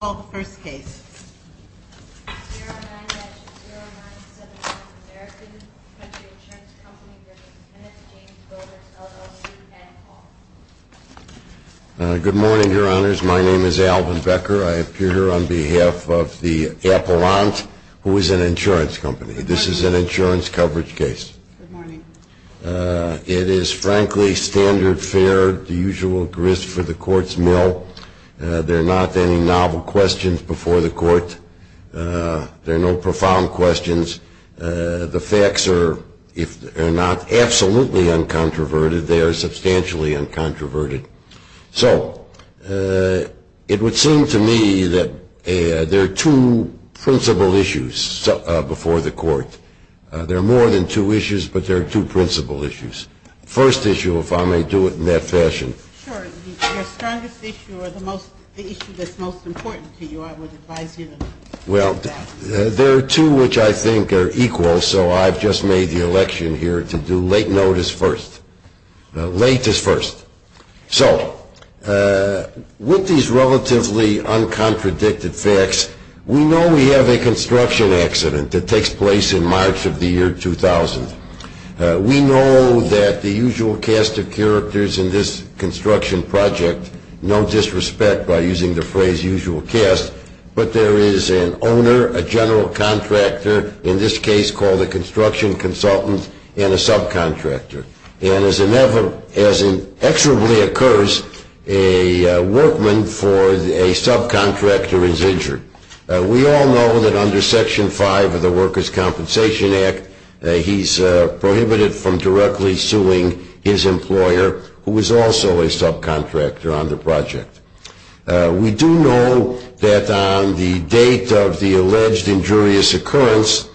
LLC. Good morning, your honors. My name is Alvin Becker. I here on behalf of the Apellantes, who is an insurance company. This is an insurance coverage case. It is frankly standard fare at the usual grist for the court's mill. There are not any novel questions before the court. There are no profound questions. The facts are, if not absolutely uncontroverted, they are substantially uncontroverted. So, it would seem to me that there are two principal issues before the court. There are more than two issues, but there are two principal issues. The first issue, if I may do it in that fashion. Sure. Your strongest issue or the issue that's most important to you, I would advise you to discuss. Well, there are two which I think are equal, so I've just made the election here to do late notice first. Late is first. So, with these relatively uncontradicted facts, we know we have a construction accident that We know that the usual cast of characters in this construction project, no disrespect by using the phrase usual cast, but there is an owner, a general contractor, in this case called a construction consultant, and a subcontractor. And as inevitably occurs, a workman for a subcontractor is injured. We all know that under Section 5 of the Workers' Compensation Act, he's prohibited from directly suing his employer, who is also a subcontractor on the project. We do know that on the date of the alleged injurious occurrence,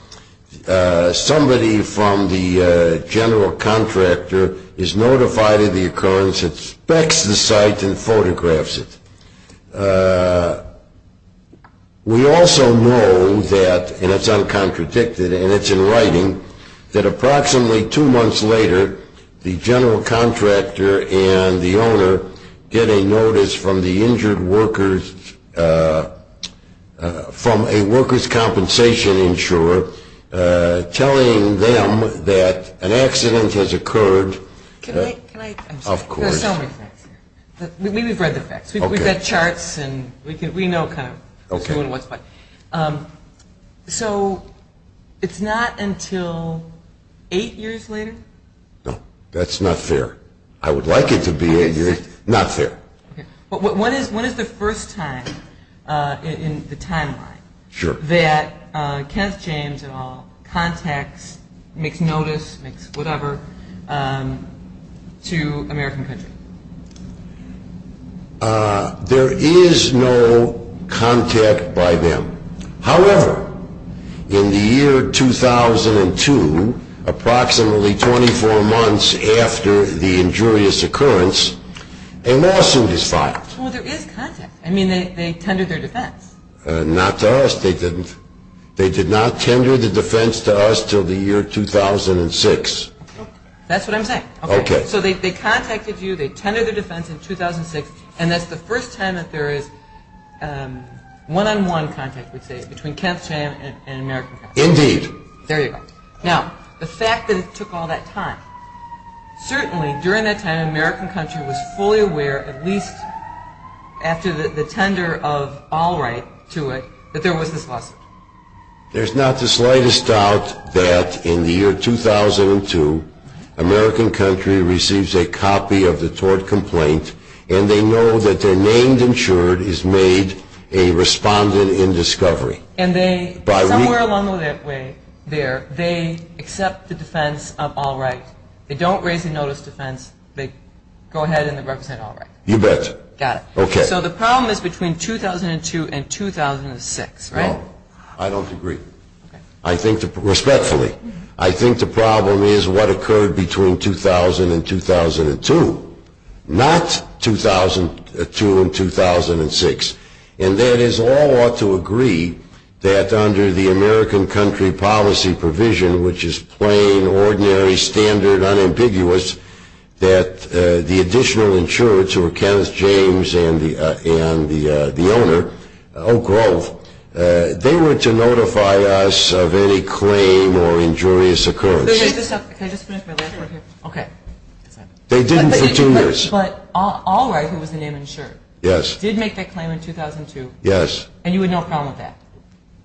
somebody from the general contractor is notified of the occurrence, inspects the site, and photographs it. We also know that, and it's uncontradicted, and it's in writing, that approximately two months later, the general contractor and the owner get a notice from the injured workers, from a workers' compensation insurer, telling them that an accident has occurred. Can I, can I, there's so many facts here. We've read the facts. We've got charts, and we know kind of who and what's what. So, it's not until eight years later? No, that's not fair. I would like it to be eight years, not fair. When is the first time in the timeline that Kenneth James, et al., contacts, makes notice, makes whatever, to American Country? There is no contact by them. However, in the year 2002, approximately 24 months after the injurious occurrence, a lawsuit is filed. Well, there is contact. I mean, they tendered their defense. Not to us. They did not tender the defense to us until the year 2006. That's what I'm saying. Okay. So, they contacted you, they tendered their defense in 2006, and that's the first time that there is one-on-one contact, we'd say, between Kenneth James and American Country. Indeed. There you go. Now, the fact that it took all that time, certainly, during that time, American Country was fully aware, at least after the tender of Allwright to it, that there was this lawsuit. There's not the slightest doubt that in the year 2002, American Country receives a copy of the tort complaint, and they know that their name insured is made a respondent in discovery. And they, somewhere along the way there, they accept the defense of Allwright. They don't raise a notice defense. They go ahead and they represent Allwright. You bet. Got it. Okay. So, the problem is between 2002 and 2006, right? No. I don't agree. Okay. I think, respectfully, I think the problem is what occurred between 2000 and 2002, not 2002 and 2006. And that is, all ought to agree that under the American Country policy provision, which is plain, ordinary, standard, unambiguous, that the additional insurance, or Kenneth James and the owner, Oak Grove, they were to notify us of any claim or injurious occurrence. Can I just finish my last part here? Okay. They didn't for two years. But Allwright, who was the name insured. Yes. Did make that claim in 2002. Yes. And you had no problem with that?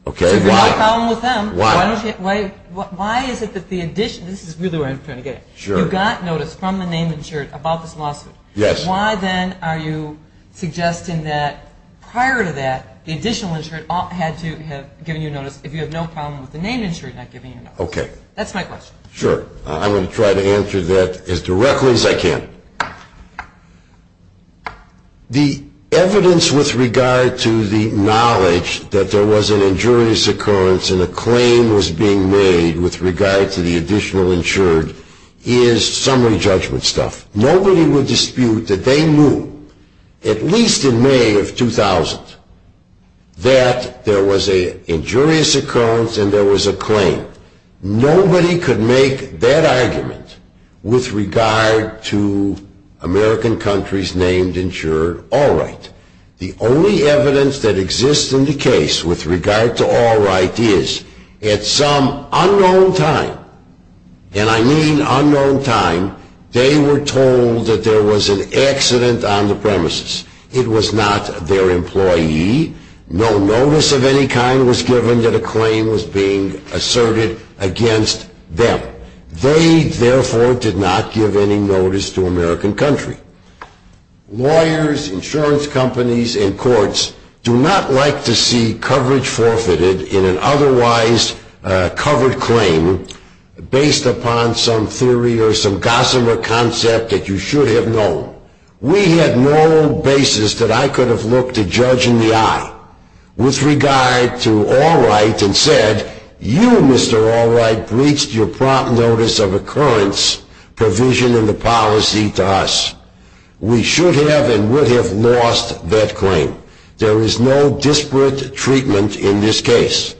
Okay. So, if you have a problem with them, why is it that the additional, this is really where I'm trying to get at. Sure. You got notice from the name insured about this lawsuit. Yes. Why then are you suggesting that prior to that, the additional insured had to have given you notice if you have no problem with the name insured not giving you notice? Okay. That's my question. Sure. I'm going to try to answer that as directly as I can. The evidence with regard to the knowledge that there was an injurious occurrence and a claim was being made with regard to the additional insured is summary judgment stuff. Nobody would dispute that they knew, at least in May of 2000, that there was an injurious occurrence and there was a claim. Nobody could make that argument with regard to American countries named insured Allwright. The only evidence that exists in the case with regard to Allwright is at some unknown time, and I mean unknown time, they were told that there was an accident on the premises. It was not their employee. No notice of any kind was given that a claim was being asserted against them. They, therefore, did not give any notice to American country. Lawyers, insurance companies, and courts do not like to see coverage forfeited in an otherwise covered claim based upon some theory or some gossamer concept that you should have known. We had no basis that I could have looked a judge in the eye with regard to Allwright and said, You, Mr. Allwright, breached your prompt notice of occurrence provision in the policy to us. We should have and would have lost that claim. There is no disparate treatment in this case.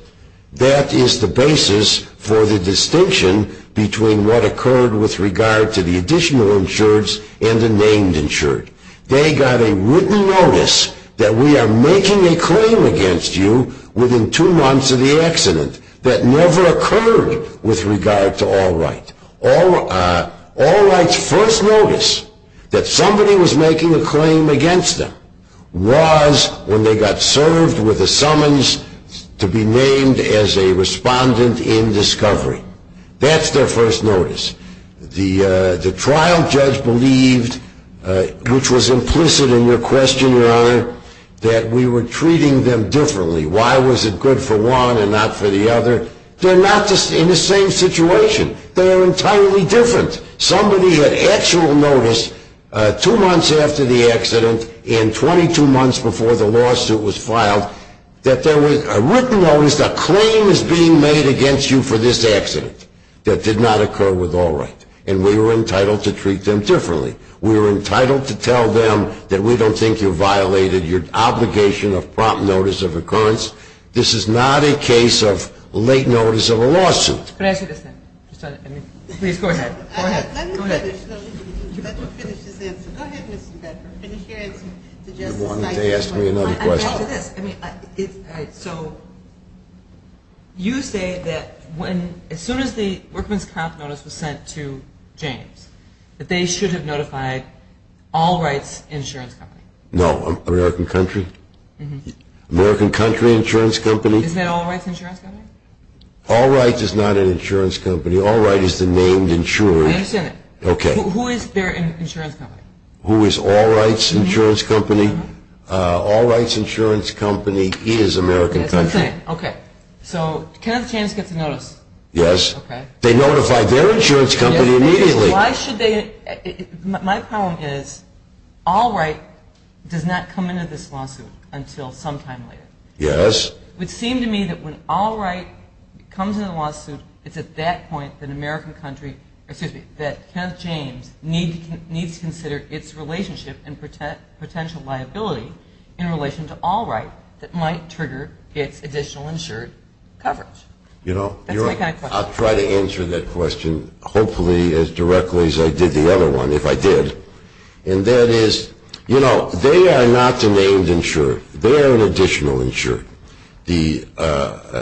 That is the basis for the distinction between what occurred with regard to the additional insureds and the named insured. They got a written notice that we are making a claim against you within two months of the accident. That never occurred with regard to Allwright. Allwright's first notice that somebody was making a claim against them was when they got served with a summons to be named as a respondent in discovery. That's their first notice. The trial judge believed, which was implicit in your question, Your Honor, that we were treating them differently. Why was it good for one and not for the other? They're not in the same situation. They're entirely different. Somebody had actual notice two months after the accident and 22 months before the lawsuit was filed that there was a written notice, a claim is being made against you for this accident that did not occur with Allwright. And we were entitled to treat them differently. We were entitled to tell them that we don't think you violated your obligation of prompt notice of occurrence. Can I say this now? Please go ahead. Go ahead. Go ahead. Let me finish. Let me finish this answer. Go ahead, Mr. Bedford. Finish your answer. You wanted to ask me another question. I'll answer this. So you say that as soon as the workman's prompt notice was sent to James, that they should have notified Allwright's insurance company. No. American Country? Mm-hmm. American Country Insurance Company? Isn't that Allwright's insurance company? Allwright is not an insurance company. Allwright is the named insurer. I understand that. Okay. Who is their insurance company? Who is Allwright's insurance company? Mm-hmm. Allwright's insurance company is American Country. That's what I'm saying. Okay. So Kenneth Janis gets a notice. Yes. Okay. They notify their insurance company immediately. Why should they? My problem is Allwright does not come into this lawsuit until sometime later. Yes. It would seem to me that when Allwright comes into the lawsuit, it's at that point that American Country, excuse me, that Kenneth Janis needs to consider its relationship and potential liability in relation to Allwright that might trigger its additional insured coverage. That's my kind of question. I'll try to answer that question hopefully as directly as I did the other one, if I did. And that is, you know, they are not the named insurer. They are an additional insured. The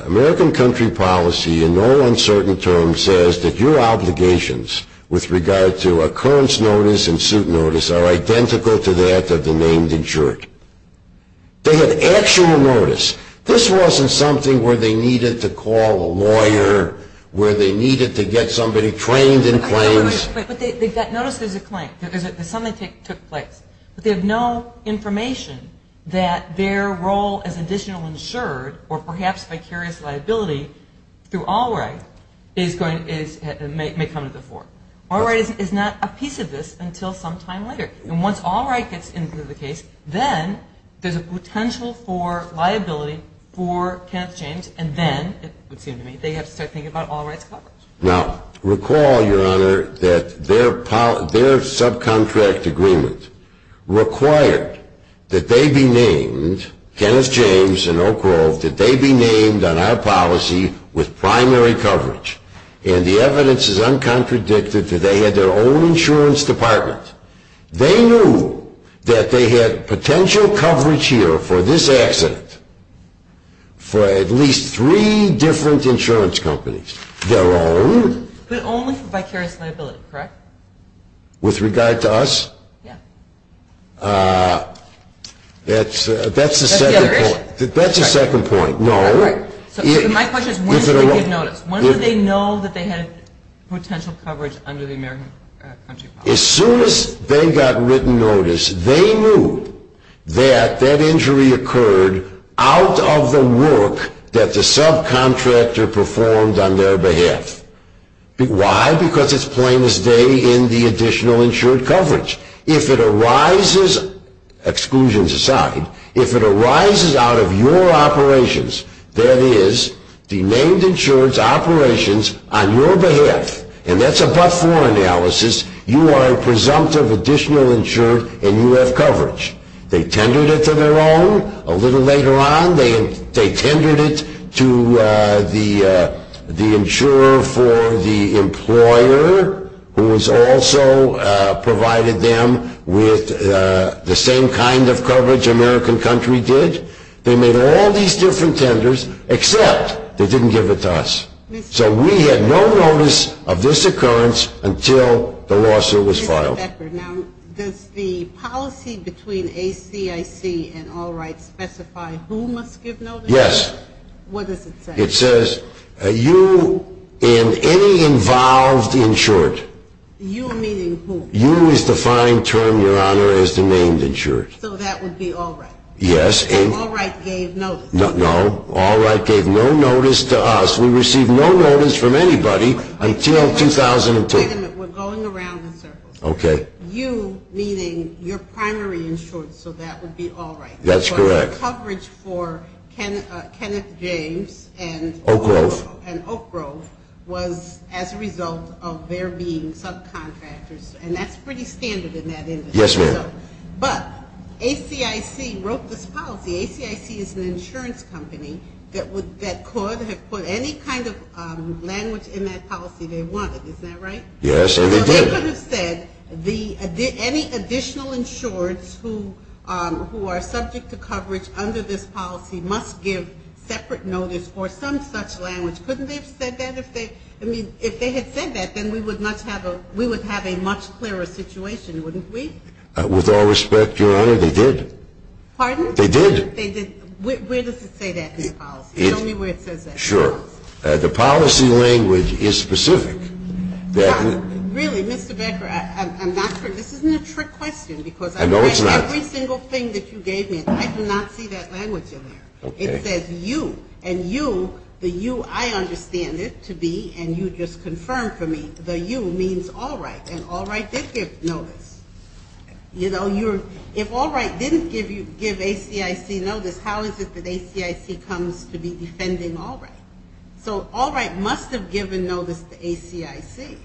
American Country policy in no uncertain terms says that your obligations with regard to occurrence notice and suit notice are identical to that of the named insured. They have actual notice. This wasn't something where they needed to call a lawyer, where they needed to get somebody trained in claims. But notice there's a claim. There's something that took place. But they have no information that their role as additional insured or perhaps vicarious liability through Allwright may come to the fore. Allwright is not a piece of this until sometime later. And once Allwright gets into the case, then there's a potential for liability for Kenneth Janis, and then, it would seem to me, they have to start thinking about Allwright's coverage. Now, recall, Your Honor, that their subcontract agreement required that they be named, Kenneth Janis and Oak Grove, that they be named on our policy with primary coverage. And the evidence is uncontradicted that they had their own insurance department. They knew that they had potential coverage here for this accident for at least three different insurance companies. Their own. But only for vicarious liability, correct? With regard to us? Yeah. That's the second point. That's the other issue? That's the second point, no. All right. My question is, when did they get notice? When did they know that they had potential coverage under the American country policy? As soon as they got written notice, they knew that that injury occurred out of the work that the subcontractor performed on their behalf. Why? Because it's plain as day in the additional insured coverage. If it arises, exclusions aside, if it arises out of your operations, that is, the named insurance operations on your behalf, and that's a but-for analysis, you are presumptive additional insured and you have coverage. They tendered it to their own a little later on. They tendered it to the insurer for the employer who has also provided them with the same kind of coverage American country did. They made all these different tenders, except they didn't give it to us. So we had no notice of this occurrence until the lawsuit was filed. Mr. Becker, now, does the policy between ACIC and All Right specify who must give notice? Yes. What does it say? It says, you and any involved insured. You meaning who? You is the fine term, Your Honor, as the named insured. So that would be All Right? Yes. All Right gave notice? No. All Right gave no notice to us. We received no notice from anybody until 2002. Wait a minute. We're going around in circles. Okay. You meaning your primary insured, so that would be All Right. That's correct. But the coverage for Kenneth James and Oak Grove was as a result of there being subcontractors, and that's pretty standard in that industry. Yes, ma'am. But ACIC wrote this policy. ACIC is an insurance company that could have put any kind of language in that policy they wanted. Isn't that right? Yes, they did. So they could have said any additional insureds who are subject to coverage under this policy must give separate notice for some such language. Couldn't they have said that? I mean, if they had said that, then we would have a much clearer situation, wouldn't we? With all respect, Your Honor, they did. Pardon? They did. They did. Where does it say that in the policy? Show me where it says that. Sure. The policy language is specific. Really, Mr. Becker, I'm not sure. This isn't a trick question because I read every single thing that you gave me, and I do not see that language in there. It says you, and you, the you I understand it to be, and you just confirmed for me, the you means All Right, and All Right did give notice. You know, if All Right didn't give ACIC notice, how is it that ACIC comes to be defending All Right? So All Right must have given notice to ACIC.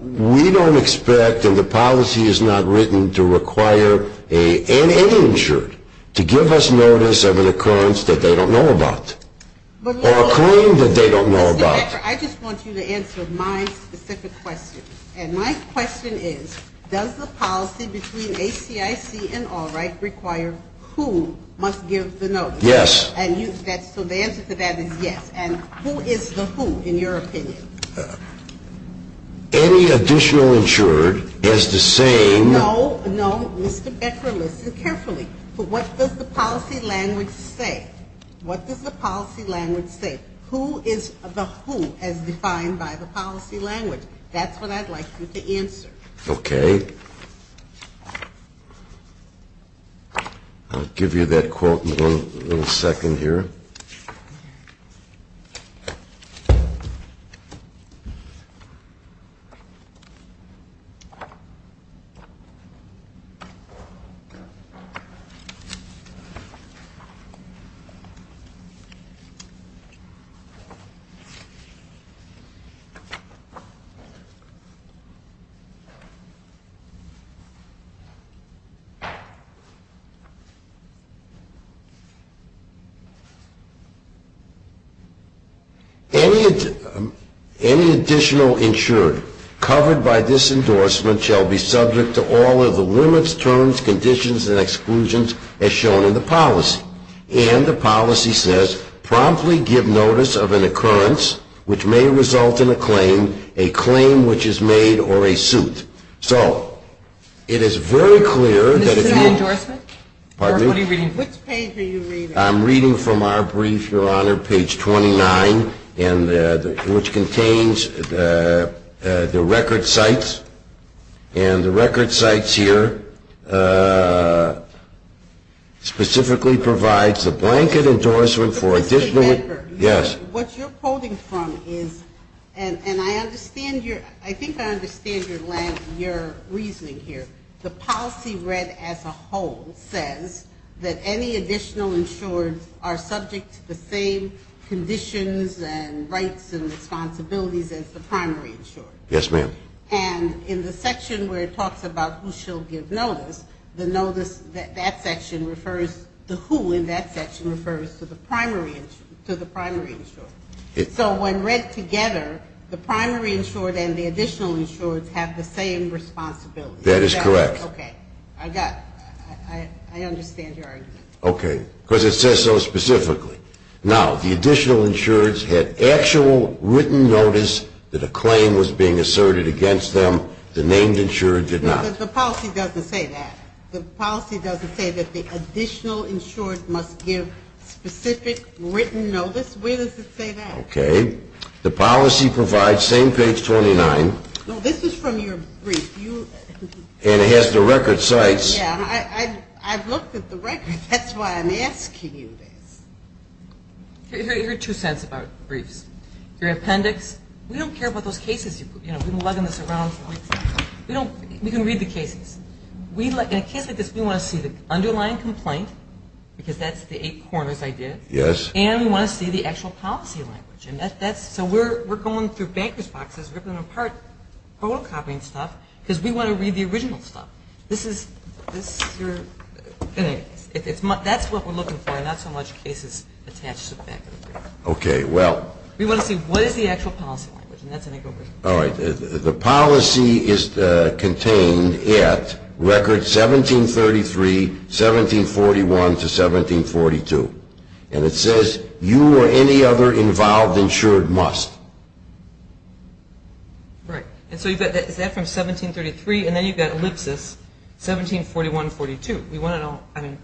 We don't expect, and the policy is not written to require any insured to give us notice of an occurrence that they don't know about or a claim that they don't know about. Mr. Becker, I just want you to answer my specific question, and my question is, does the policy between ACIC and All Right require who must give the notice? Yes. So the answer to that is yes. And who is the who, in your opinion? Any additional insured is the same. No, no, Mr. Becker, listen carefully. What does the policy language say? What does the policy language say? Who is the who as defined by the policy language? That's what I'd like you to answer. Okay. I'll give you that quote in a little second here. Any additional insured covered by this endorsement shall be subject to all of the limits, terms, conditions, and exclusions as shown in the policy. And the policy says promptly give notice of an occurrence which may result in a claim, a claim which is made, or a suit. So it is very clear that if you – Is this an endorsement? Pardon me? What are you reading from? Which page are you reading? I'm reading from our brief, Your Honor, page 29, which contains the record sites. And the record sites here specifically provides the blanket endorsement for additional – Mr. Becker. Yes. What you're quoting from is – and I understand your – I think I understand your reasoning here. The policy read as a whole says that any additional insured are subject to the same conditions and rights and responsibilities as the primary insured. Yes, ma'am. And in the section where it talks about who shall give notice, the notice – that section refers – the who in that section refers to the primary – to the primary insured. So when read together, the primary insured and the additional insured have the same responsibility. That is correct. Okay. I got – I understand your argument. Okay. Because it says so specifically. Now, the additional insureds had actual written notice that a claim was being asserted against them. The named insured did not. But the policy doesn't say that. The policy doesn't say that the additional insured must give specific written notice. Where does it say that? Okay. The policy provides – same page 29. No, this is from your brief. And it has the record sites. Yeah, I've looked at the record. That's why I'm asking you this. Here are two cents about briefs. Your appendix – we don't care about those cases. You know, we can lug them around. We don't – we can read the cases. In a case like this, we want to see the underlying complaint because that's the eight corners I did. Yes. And we want to see the actual policy language. And that's – so we're going through bankers' boxes, ripping them apart, photocopying stuff because we want to read the original stuff. This is – that's what we're looking for, not so much cases attached to the back of the brief. Okay. Well – We want to see what is the actual policy language. All right. The policy is contained at record 1733, 1741 to 1742. And it says you or any other involved insured must. Right. And so you've got – is that from 1733? And then you've got ellipsis, 1741 to 1742. We want to know – I mean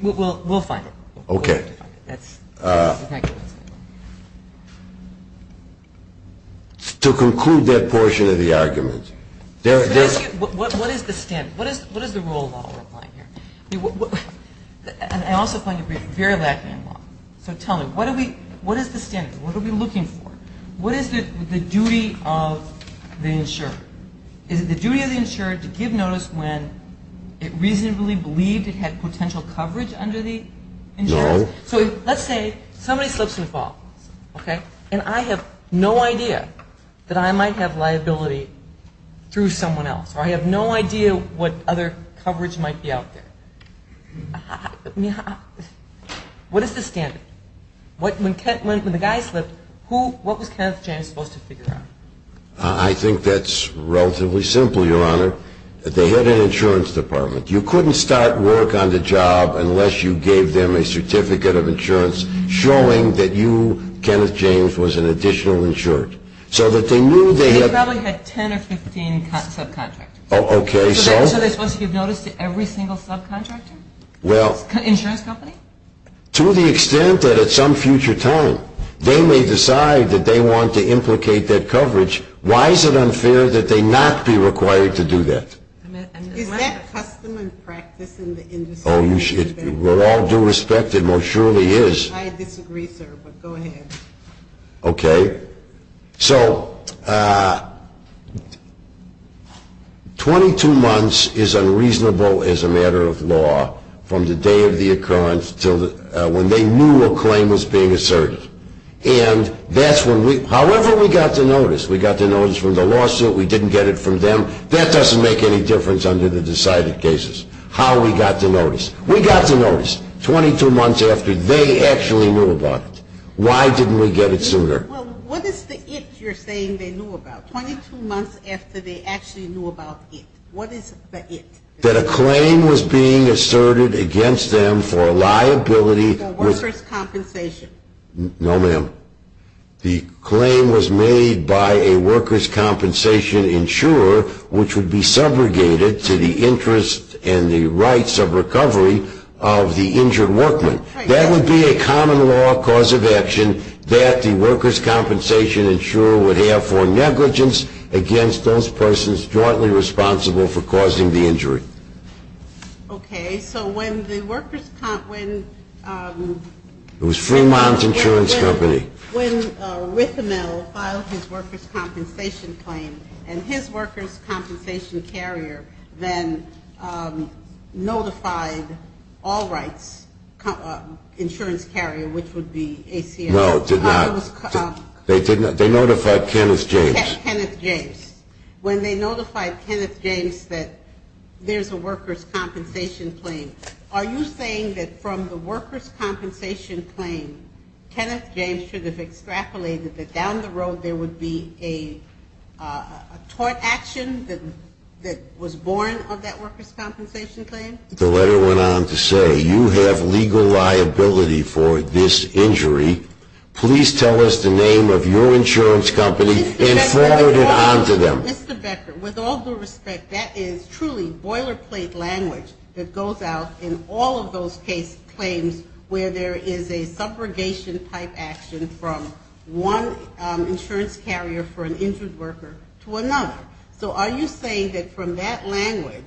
– we'll find it. Okay. That's – To conclude that portion of the argument, there – What is the standard? What is the rule of law we're applying here? And I also find your brief very lacking in law. So tell me, what do we – what is the standard? What are we looking for? What is the duty of the insured? Is it the duty of the insured to give notice when it reasonably believed it had potential coverage under the insurance? No. So let's say somebody slips in the fall. Okay. And I have no idea that I might have liability through someone else, or I have no idea what other coverage might be out there. What is the standard? When the guy slipped, who – what was Kenneth James supposed to figure out? I think that's relatively simple, Your Honor. They had an insurance department. You couldn't start work on the job unless you gave them a certificate of insurance showing that you, Kenneth James, was an additional insured. So that they knew they had – They probably had 10 or 15 subcontractors. Oh, okay. So? So they're supposed to give notice to every single subcontractor? Well – Insurance company? To the extent that at some future time they may decide that they want to implicate that coverage, why is it unfair that they not be required to do that? Is that custom and practice in the industry to do that? Oh, you should – well, all due respect, it most surely is. I disagree, sir, but go ahead. Okay. So 22 months is unreasonable as a matter of law from the day of the occurrence to when they knew a claim was being asserted. And that's when we – however we got the notice. We got the notice from the lawsuit. We didn't get it from them. That doesn't make any difference under the decided cases. How we got the notice. We got the notice 22 months after they actually knew about it. Why didn't we get it sooner? Well, what is the it you're saying they knew about? 22 months after they actually knew about it. What is the it? That a claim was being asserted against them for a liability – Workers' compensation. No, ma'am. The claim was made by a workers' compensation insurer, which would be subrogated to the interest and the rights of recovery of the injured workman. That would be a common law cause of action that the workers' compensation insurer would have for negligence against those persons jointly responsible for causing the injury. Okay. So when the workers' – It was Fremont Insurance Company. When Rithamel filed his workers' compensation claim and his workers' compensation carrier then notified All Rights Insurance Carrier, which would be ACF. No, it did not. They notified Kenneth James. Kenneth James. When they notified Kenneth James that there's a workers' compensation claim, are you saying that from the workers' compensation claim, Kenneth James should have extrapolated that down the road there would be a tort action that was born of that workers' compensation claim? The letter went on to say, You have legal liability for this injury. Please tell us the name of your insurance company and forward it on to them. Mr. Becker, with all due respect, that is truly boilerplate language that goes out in all of those case claims where there is a subrogation-type action from one insurance carrier for an injured worker to another. So are you saying that from that language,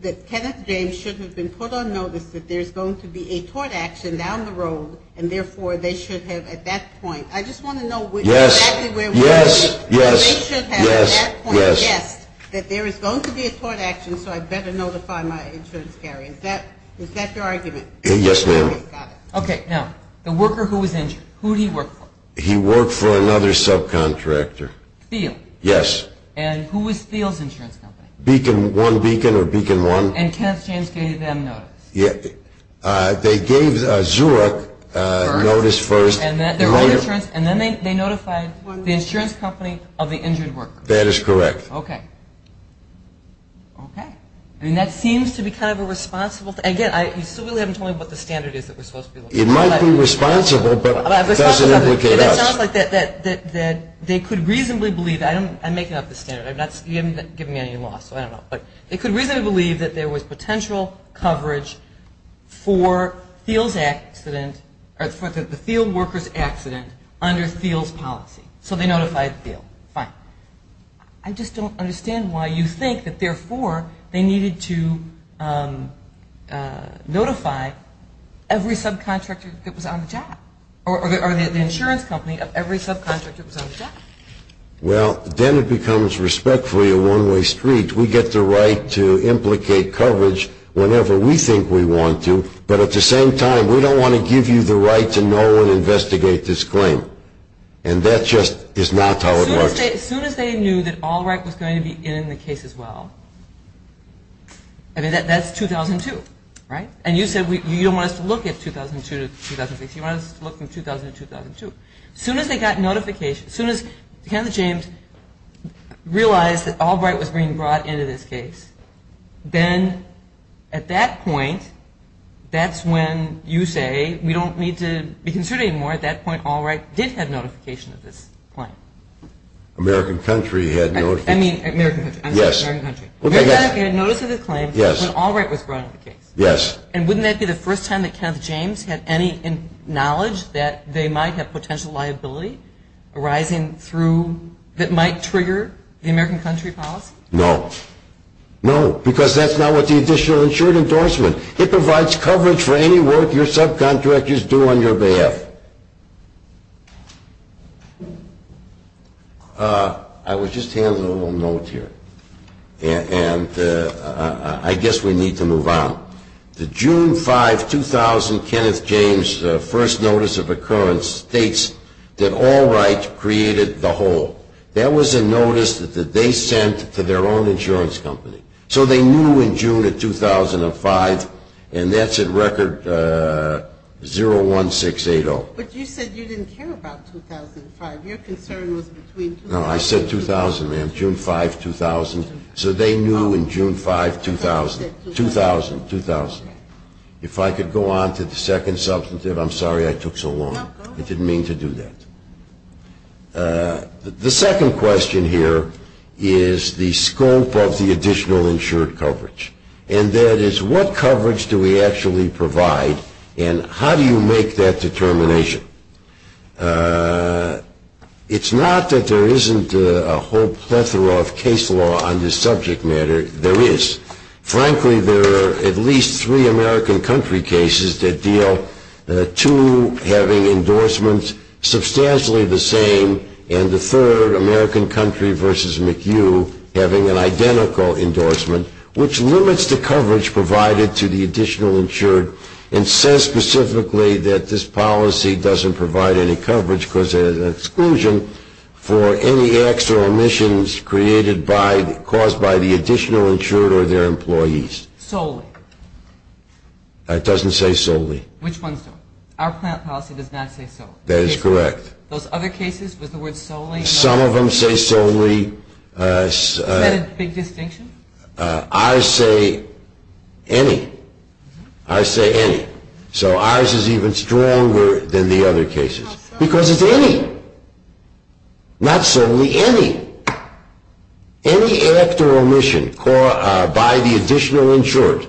that Kenneth James should have been put on notice that there's going to be a tort action down the road and therefore they should have at that point – I just want to know – Yes. Yes. Yes. They should have at that point guessed that there is going to be a tort action so I better notify my insurance carrier. Is that your argument? Yes, ma'am. Okay, now, the worker who was injured, who did he work for? He worked for another subcontractor. Thiel? Yes. And who was Thiel's insurance company? Beacon One Beacon or Beacon One. And Kenneth James gave them notice? They gave Zurich notice first. And then they notified the insurance company of the injured worker? That is correct. Okay. Okay. I mean, that seems to be kind of a responsible thing. Again, you still haven't told me what the standard is that we're supposed to be looking for. It might be responsible, but it doesn't implicate us. That sounds like they could reasonably believe – I'm making up the standard. You haven't given me any law, so I don't know. But they could reasonably believe that there was potential coverage for Thiel's accident or for the Thiel worker's accident under Thiel's policy. So they notified Thiel. Fine. I just don't understand why you think that, therefore, they needed to notify every subcontractor that was on the job or the insurance company of every subcontractor that was on the job. Well, then it becomes respectfully a one-way street. We get the right to implicate coverage whenever we think we want to, but at the same time, we don't want to give you the right to know and investigate this claim. And that just is not how it works. As soon as they knew that Albright was going to be in the case as well, I mean, that's 2002, right? And you said you don't want us to look at 2002 to 2006. You want us to look from 2000 to 2002. As soon as they got notification, as soon as Ken James realized that Albright was being brought into this case, then at that point, that's when you say we don't need to be concerned anymore. At that point, Albright did have notification of this claim. American country had notice of the claim when Albright was brought into the case. Yes. And wouldn't that be the first time that Ken James had any knowledge that they might have potential liability arising through that might trigger the American country policy? No. No, because that's not what the additional insured endorsement. It provides coverage for any work your subcontractors do on your behalf. I was just handing a little note here, and I guess we need to move on. The June 5, 2000 Kenneth James first notice of occurrence states that Albright created the hole. That was a notice that they sent to their own insurance company. So they knew in June of 2005, and that's at record 01680. But you said you didn't care about 2005. Your concern was between 2000. No, I said 2000, ma'am. June 5, 2000. So they knew in June 5, 2000. 2000. If I could go on to the second substantive. I'm sorry I took so long. No, go ahead. I didn't mean to do that. The second question here is the scope of the additional insured coverage. And that is what coverage do we actually provide, and how do you make that determination? It's not that there isn't a whole plethora of case law on this subject matter. There is. Frankly, there are at least three American country cases that deal, two having endorsements substantially the same, and the third, American country versus McHugh, having an identical endorsement, which limits the coverage provided to the additional insured and says specifically that this policy doesn't provide any coverage because there is an exclusion for any extra omissions caused by the additional insured or their employees. Solely? It doesn't say solely. Which ones don't? Our plant policy does not say so. That is correct. Those other cases, was the word solely? Some of them say solely. Is that a big distinction? Ours say any. Ours say any. So ours is even stronger than the other cases. Because it's any. Not solely any. Any act or omission by the additional insured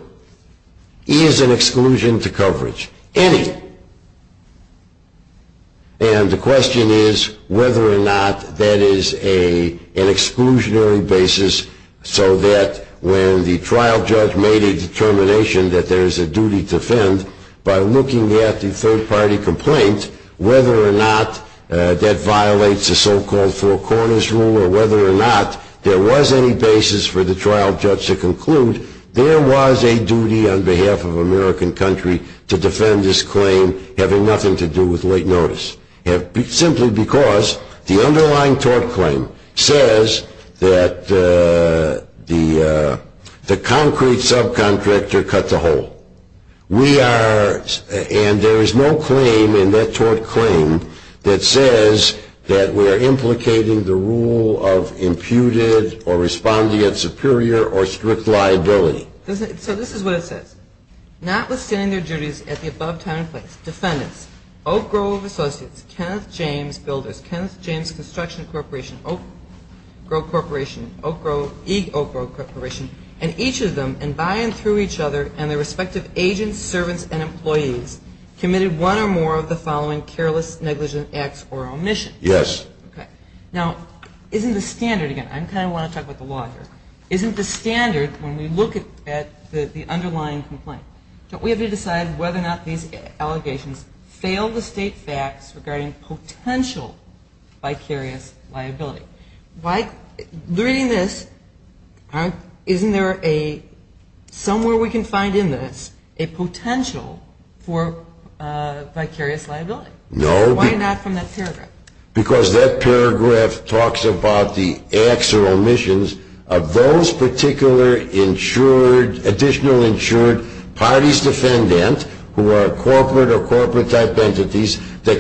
is an exclusion to coverage. Any. And the question is whether or not that is an exclusionary basis so that when the trial judge made a determination that there is a duty to whether or not that violates the so-called four corners rule or whether or not there was any basis for the trial judge to conclude, there was a duty on behalf of American country to defend this claim having nothing to do with late notice. Simply because the underlying tort claim says that the concrete subcontractor cut the hole. We are, and there is no claim in that tort claim that says that we are implicating the rule of imputed or responding at superior or strict liability. So this is what it says. Not withstanding their duties at the above time and place, defendants, Oak Grove Associates, Kenneth James Builders, Kenneth James Construction Corporation, Oak Grove Corporation, Oak Grove, E. Oak Grove Corporation, and each of them, and by and through each other, and their respective agents, servants, and employees, committed one or more of the following careless, negligent acts or omissions. Yes. Okay. Now, isn't the standard, again, I kind of want to talk about the law here. Isn't the standard, when we look at the underlying complaint, don't we have to decide whether or not these allegations fail to state facts regarding potential vicarious liability? Why, reading this, isn't there a, somewhere we can find in this, a potential for vicarious liability? No. Why not from that paragraph? Because that paragraph talks about the acts or omissions of those particular insured, additional insured parties defendant who are corporate or corporate-type entities It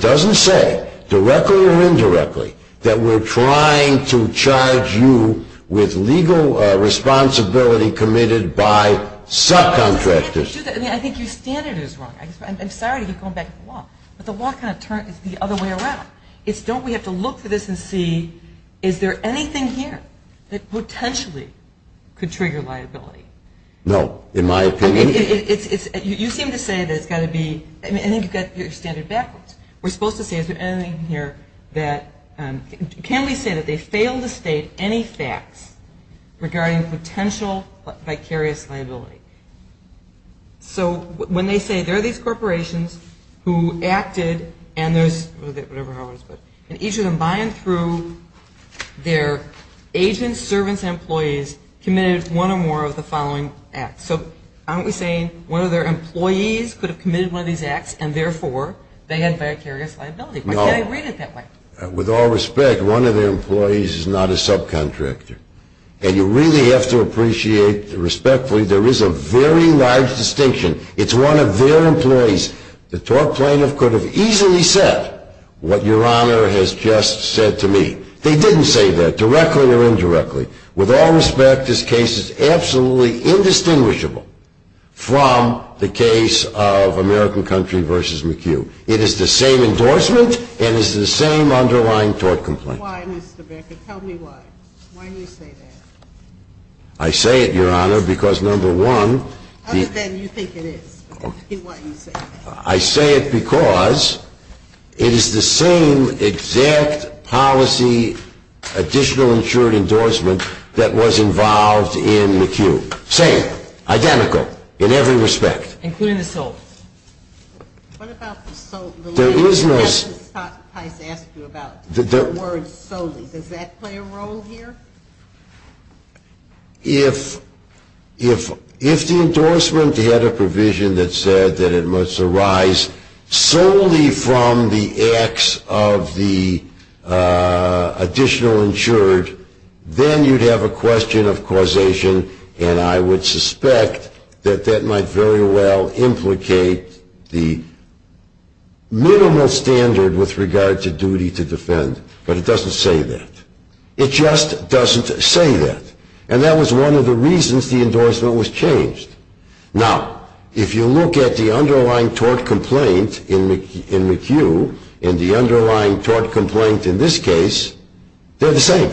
doesn't say, directly or indirectly, that we're trying to charge you with legal responsibility committed by subcontractors. I think your standard is wrong. I'm sorry to keep going back to the law, but the law kind of turns the other way around. It's don't we have to look for this and see, is there anything here that potentially could trigger liability? No, in my opinion. You seem to say that it's got to be, I think you've got your standard backwards. We're supposed to say, is there anything here that, can we say that they fail to state any facts regarding potential vicarious liability? So when they say, there are these corporations who acted and those, and each of them by and through their agents, servants, and employees committed one or more of the following acts. So aren't we saying one of their employees could have committed one of these acts, and therefore they had vicarious liability? No. Why can't I read it that way? With all respect, one of their employees is not a subcontractor. And you really have to appreciate, respectfully, there is a very large distinction. It's one of their employees. The tort plaintiff could have easily said what your Honor has just said to me. They didn't say that, directly or indirectly. With all respect, this case is absolutely indistinguishable from the case of American Country v. McHugh. It is the same endorsement, and it is the same underlying tort complaint. Why, Mr. Becker? Tell me why. Why do you say that? I say it, Your Honor, because number one. Other than you think it is. Why do you say that? I say it because it is the same exact policy additional insured endorsement that was involved in McHugh. Same. Identical. In every respect. Including the solely. What about the solely? There is no solely. Justice Price asked you about the word solely. Does that play a role here? If the endorsement had a provision that said that it must arise solely from the acts of the additional insured, then you would have a question of causation, and I would suspect that that might very well implicate the minimal standard with regard to duty to defend. But it doesn't say that. It just doesn't say that. And that was one of the reasons the endorsement was changed. Now, if you look at the underlying tort complaint in McHugh, and the underlying tort complaint in this case, they're the same.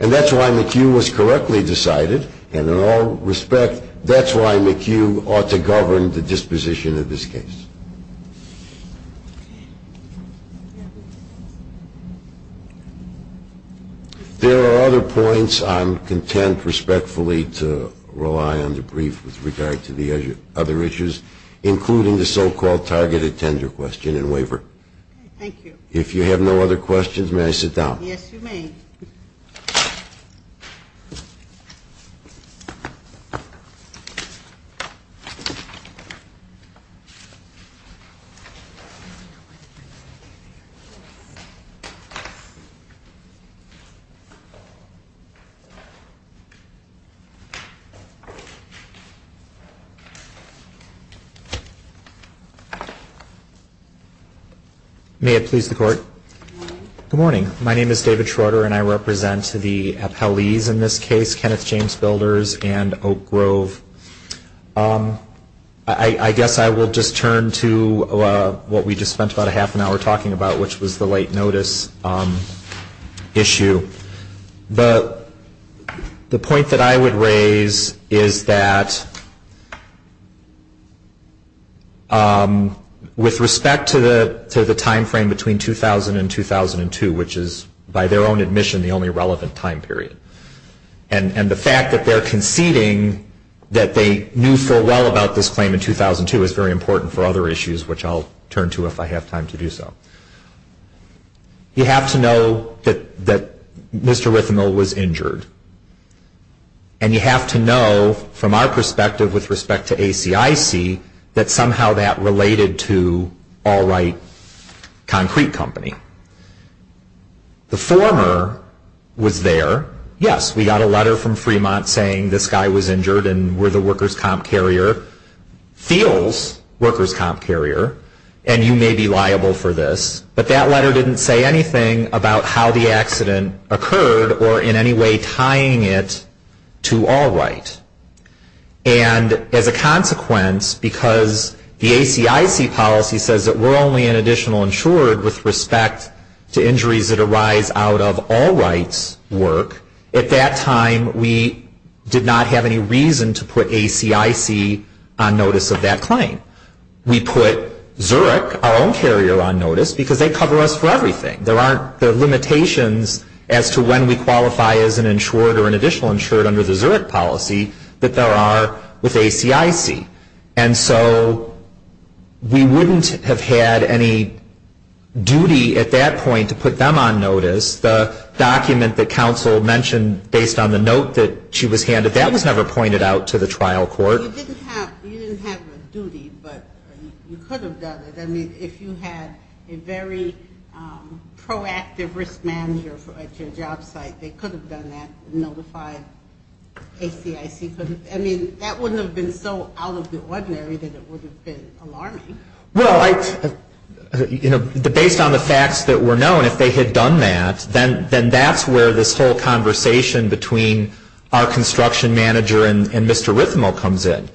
And that's why McHugh was correctly decided, And in all respect, that's why McHugh ought to govern the disposition of this case. There are other points. I'm content respectfully to rely on the brief with regard to the other issues, including the so-called targeted tender question and waiver. Thank you. If you have no other questions, may I sit down? Yes, you may. May it please the Court. Good morning. My name is David Schroeder, and I represent the appellees in this case, Kenneth James Builders and Oak Grove. I guess I will just turn to what we just spent about a half an hour talking about, which was the late notice issue. The point that I would raise is that with respect to the timeframe between 2000 and 2002, which is, by their own admission, the only relevant time period, and the fact that they're conceding that they knew full well about this claim in 2002 is very important for other issues, which I'll turn to if I have time to do so. You have to know that Mr. Rithemill was injured. And you have to know, from our perspective with respect to ACIC, that somehow that related to Allwright Concrete Company. The former was there. Yes, we got a letter from Fremont saying this guy was injured and we're the workers' comp carrier, feels workers' comp carrier, and you may be liable for this. But that letter didn't say anything about how the accident occurred or in any way tying it to Allwright. And as a consequence, because the ACIC policy says that we're only an additional insured with respect to injuries that arise out of Allwright's work, at that time we did not have any reason to put ACIC on notice of that claim. We put Zurich, our own carrier, on notice because they cover us for everything. There aren't the limitations as to when we qualify as an insured or an additional insured under the Zurich policy that there are with ACIC. And so we wouldn't have had any duty at that point to put them on notice. The document that counsel mentioned based on the note that she was handed, that was never pointed out to the trial court. Well, you didn't have a duty, but you could have done it. I mean, if you had a very proactive risk manager at your job site, they could have done that and notified ACIC. I mean, that wouldn't have been so out of the ordinary that it would have been alarming. Well, you know, based on the facts that were known, if they had done that, then that's where this whole conversation between our construction manager and Mr. Rithmo comes in.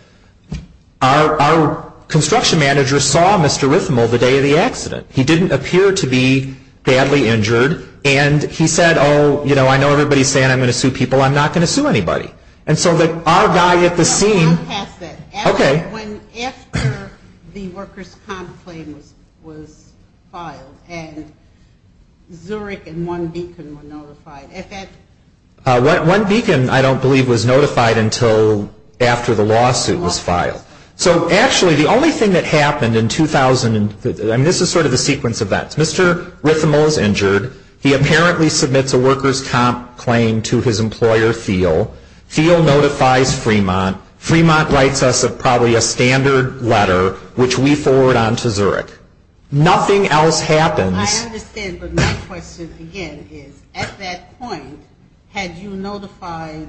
Our construction manager saw Mr. Rithmo the day of the accident. He didn't appear to be badly injured, and he said, oh, you know, I know everybody is saying I'm going to sue people. I'm not going to sue anybody. And so our guy at the scene. I'll pass that. Okay. When after the workers' comp claim was filed and Zurich and One Beacon were notified. One Beacon, I don't believe, was notified until after the lawsuit was filed. So actually the only thing that happened in 2000, I mean, this is sort of the sequence of events. Mr. Rithmo is injured. He apparently submits a workers' comp claim to his employer, Thiel. Thiel notifies Fremont. Fremont writes us probably a standard letter, which we forward on to Zurich. Nothing else happens. I understand, but my question again is, at that point, had you notified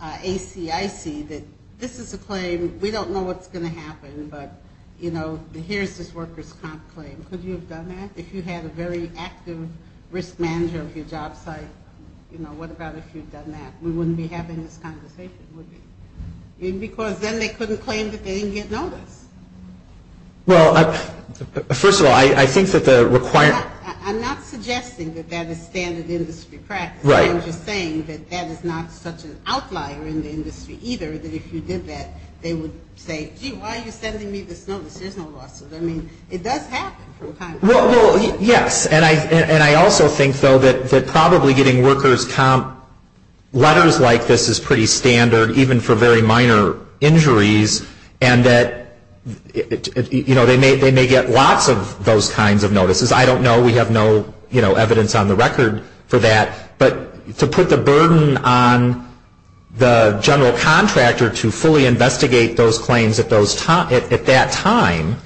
ACIC that this is a claim, we don't know what's going to happen, but, you know, here's this workers' comp claim. Could you have done that? If you had a very active risk manager of your job site, you know, what about if you'd done that? We wouldn't be having this conversation, would we? Because then they couldn't claim that they didn't get notice. Well, first of all, I think that the requirement. I'm not suggesting that that is standard industry practice. Right. I'm just saying that that is not such an outlier in the industry either, that if you did that, they would say, gee, why are you sending me this notice? There's no lawsuit. I mean, it does happen from time to time. Well, yes, and I also think, though, that probably getting workers' comp letters like this is pretty standard, even for very minor injuries, and that, you know, they may get lots of those kinds of notices. I don't know. We have no, you know, evidence on the record for that. But to put the burden on the general contractor to fully investigate those claims at that time,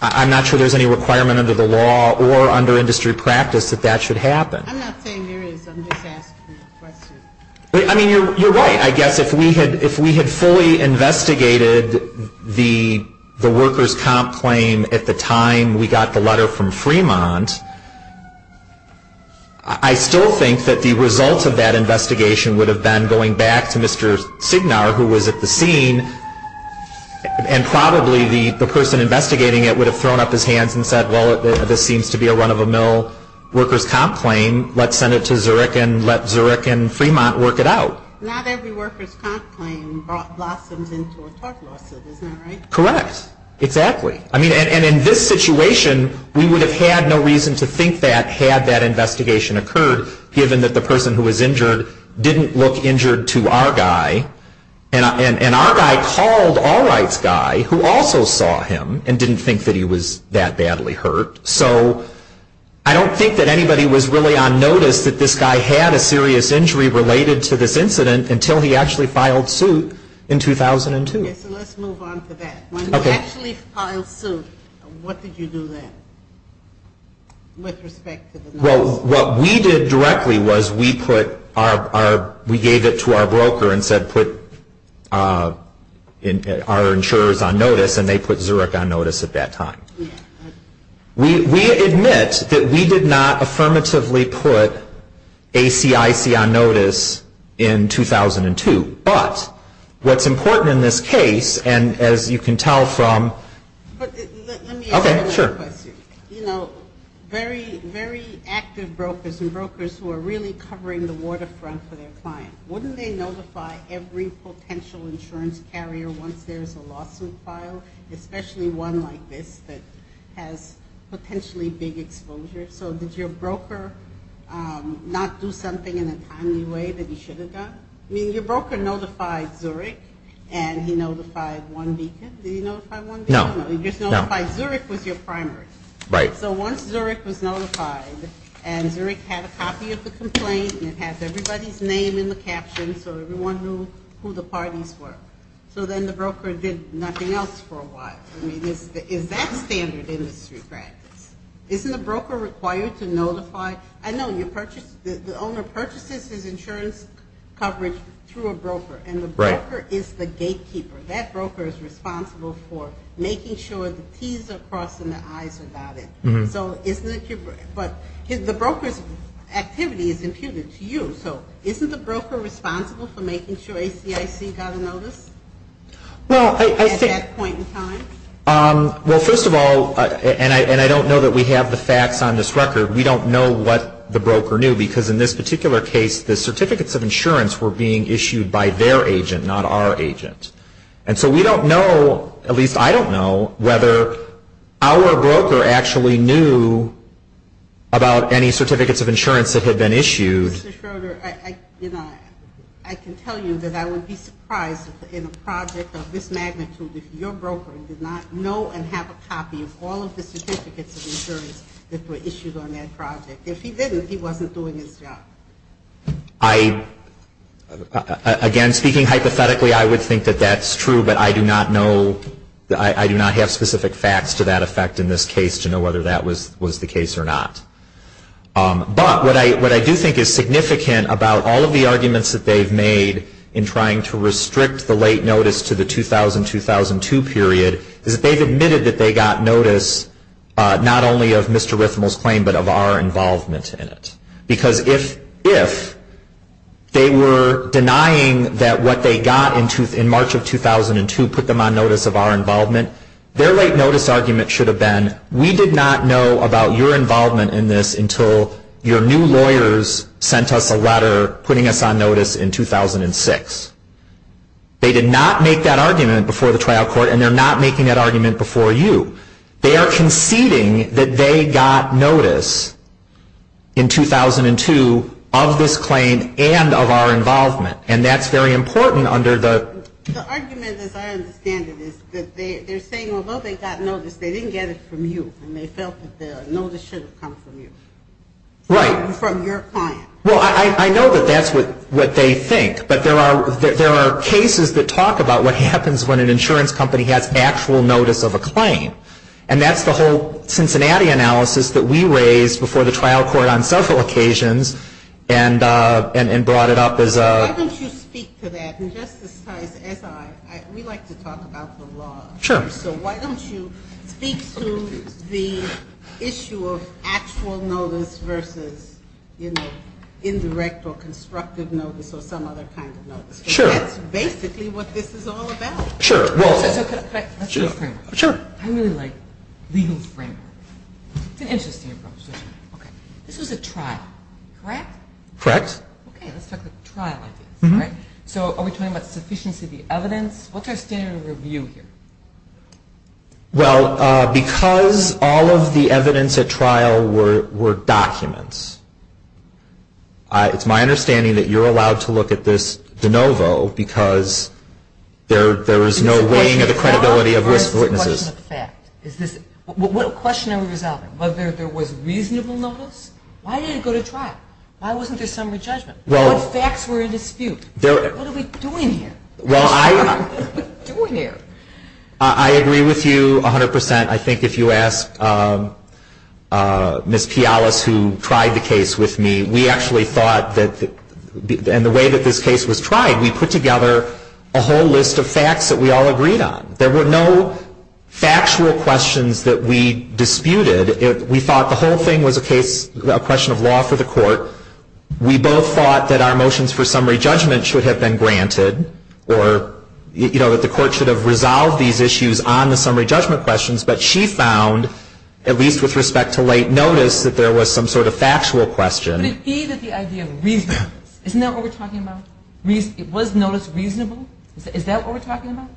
I'm not sure there's any requirement under the law or under industry practice that that should happen. I'm not saying there is. I'm just asking the question. I mean, you're right. I guess if we had fully investigated the workers' comp claim at the time we got the letter from Fremont, I still think that the result of that investigation would have been going back to Mr. Signar, who was at the scene, and probably the person investigating it would have thrown up his hands and said, well, this seems to be a run-of-the-mill workers' comp claim. Let's send it to Zurich and let Zurich and Fremont work it out. Not every workers' comp claim blossoms into a tort lawsuit. Isn't that right? Correct. Exactly. I mean, and in this situation, we would have had no reason to think that had that investigation occurred, given that the person who was injured didn't look injured to our guy. And our guy called Allwright's guy, who also saw him and didn't think that he was that badly hurt. So I don't think that anybody was really on notice that this guy had a serious injury related to this incident until he actually filed suit in 2002. Okay, so let's move on to that. When you actually filed suit, what did you do then with respect to the notice? Well, what we did directly was we gave it to our broker and said put our insurers on notice, and they put Zurich on notice at that time. We admit that we did not affirmatively put ACIC on notice in 2002. But what's important in this case, and as you can tell from ‑‑ Okay, sure. You know, very active brokers and brokers who are really covering the waterfront for their clients, wouldn't they notify every potential insurance carrier once there's a lawsuit filed, especially one like this that has potentially big exposure? So did your broker not do something in a timely way that he should have done? I mean, your broker notified Zurich, and he notified One Beacon. Did he notify One Beacon? No. He just notified Zurich was your primary. Right. So once Zurich was notified and Zurich had a copy of the complaint and it had everybody's name in the captions so everyone knew who the parties were, so then the broker did nothing else for a while. I mean, is that standard industry practice? Isn't a broker required to notify? I know the owner purchases his insurance coverage through a broker, and the broker is the gatekeeper. That broker is responsible for making sure the T's are crossed and the I's are dotted. So isn't it your ‑‑ but the broker's activity is imputed to you, so isn't the broker responsible for making sure ACIC got a notice at that point in time? Well, first of all, and I don't know that we have the facts on this record, we don't know what the broker knew, because in this particular case, the certificates of insurance were being issued by their agent, not our agent. And so we don't know, at least I don't know, whether our broker actually knew about any certificates of insurance that had been issued. Mr. Schroeder, I can tell you that I would be surprised in a project of this magnitude if your broker did not know and have a copy of all of the certificates of insurance that were issued on that project. If he did, if he wasn't doing his job. I ‑‑ again, speaking hypothetically, I would think that that's true, but I do not know ‑‑ I do not have specific facts to that effect in this case to know whether that was the case or not. But what I do think is significant about all of the arguments that they've made in trying to restrict the late notice to the 2000‑2002 period is that they've admitted that they got notice not only of Mr. Rithmel's claim, but of our involvement in it. Because if they were denying that what they got in March of 2002 put them on notice of our involvement, their late notice argument should have been, we did not know about your involvement in this until your new lawyers sent us a letter putting us on notice in 2006. They did not make that argument before the trial court and they're not making that argument before you. They are conceding that they got notice in 2002 of this claim and of our involvement. And that's very important under the ‑‑ The argument, as I understand it, is that they're saying, although they got notice, they didn't get it from you and they felt that the notice should have come from you. Right. From your client. Well, I know that that's what they think. But there are cases that talk about what happens when an insurance company has actual notice of a claim. And that's the whole Cincinnati analysis that we raised before the trial court on several occasions and brought it up as a ‑‑ Why don't you speak to that? And Justice Tice, as I, we like to talk about the law. Sure. So why don't you speak to the issue of actual notice versus, you know, indirect or constructive notice or some other kind of notice. Sure. Because that's basically what this is all about. Sure. Let's do a framework. Sure. I really like legal framework. It's an interesting approach. This was a trial, correct? Correct. Okay. Let's talk about trial. So are we talking about sufficiency of the evidence? What's our standard of review here? Well, because all of the evidence at trial were documents, it's my understanding that you're allowed to look at this de novo because there is no weighing of the credibility of risk witnesses. It's a question of fact. What question are we resolving? Whether there was reasonable notice? Why did it go to trial? Why wasn't there summary judgment? What facts were in dispute? What are we doing here? Well, I agree with you 100%. I think if you ask Ms. Pialas, who tried the case with me, we actually thought that in the way that this case was tried, we put together a whole list of facts that we all agreed on. There were no factual questions that we disputed. We thought the whole thing was a question of law for the court. We both thought that our motions for summary judgment should have been granted, or that the court should have resolved these issues on the summary judgment questions. But she found, at least with respect to late notice, that there was some sort of factual question. But it gave it the idea of reasonableness. Isn't that what we're talking about? Was notice reasonable? Is that what we're talking about?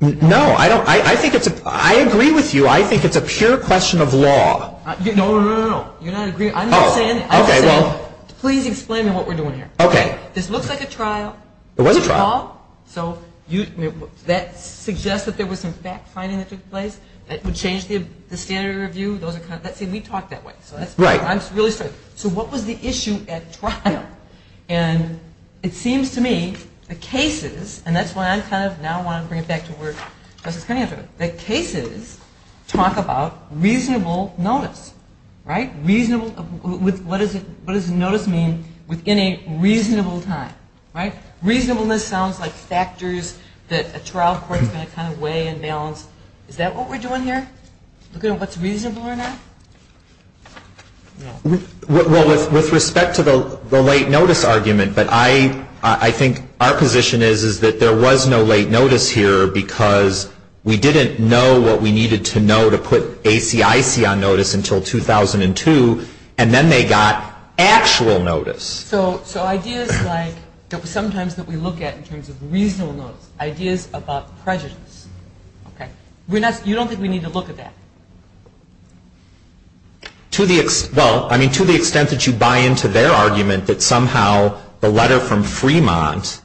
No. I agree with you. I think it's a pure question of law. No, no, no, no. You're not agreeing. I'm just saying, please explain to me what we're doing here. Okay. This looks like a trial. It was a trial. So that suggests that there was some fact-finding that took place that would change the standard of review. Let's say we talked that way. Right. So what was the issue at trial? And it seems to me the cases, and that's why I kind of now want to bring it back to where Justice Kennedy was. The cases talk about reasonable notice, right? What does notice mean within a reasonable time? Right? Reasonableness sounds like factors that a trial court is going to kind of weigh and balance. Is that what we're doing here? Looking at what's reasonable or not? Well, with respect to the late notice argument, but I think our position is that there was no late notice here because we didn't know what to do, and then they got actual notice. So ideas like sometimes that we look at in terms of reasonable notice, ideas about prejudice. Okay. You don't think we need to look at that? Well, I mean, to the extent that you buy into their argument that somehow the letter from Fremont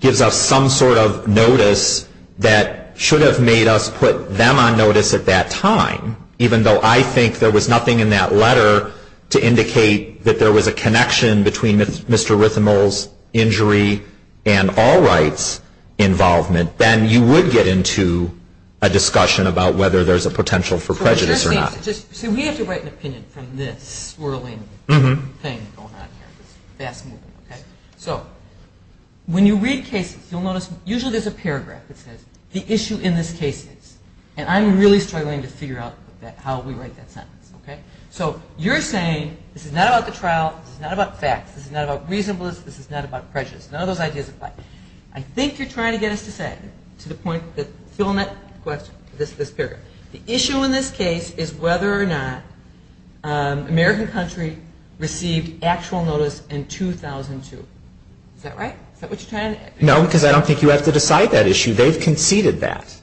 gives us some sort of notice that should have made us put them on notice at that time, even though I think there was nothing in that letter to indicate that there was a connection between Mr. Rithamel's injury and Allwright's involvement, then you would get into a discussion about whether there's a potential for prejudice or not. So we have to write an opinion from this swirling thing going on here, this vast movement, okay? So when you read cases, you'll notice usually there's a paragraph that says, the issue in this case is. And I'm really struggling to figure out how we write that sentence, okay? So you're saying this is not about the trial, this is not about facts, this is not about reasonableness, this is not about prejudice, none of those ideas apply. I think you're trying to get us to say, to the point that fill in that question, this paragraph, the issue in this case is whether or not American country received actual notice in 2002. Is that right? Is that what you're trying to get? No, because I don't think you have to decide that issue. They've conceded that.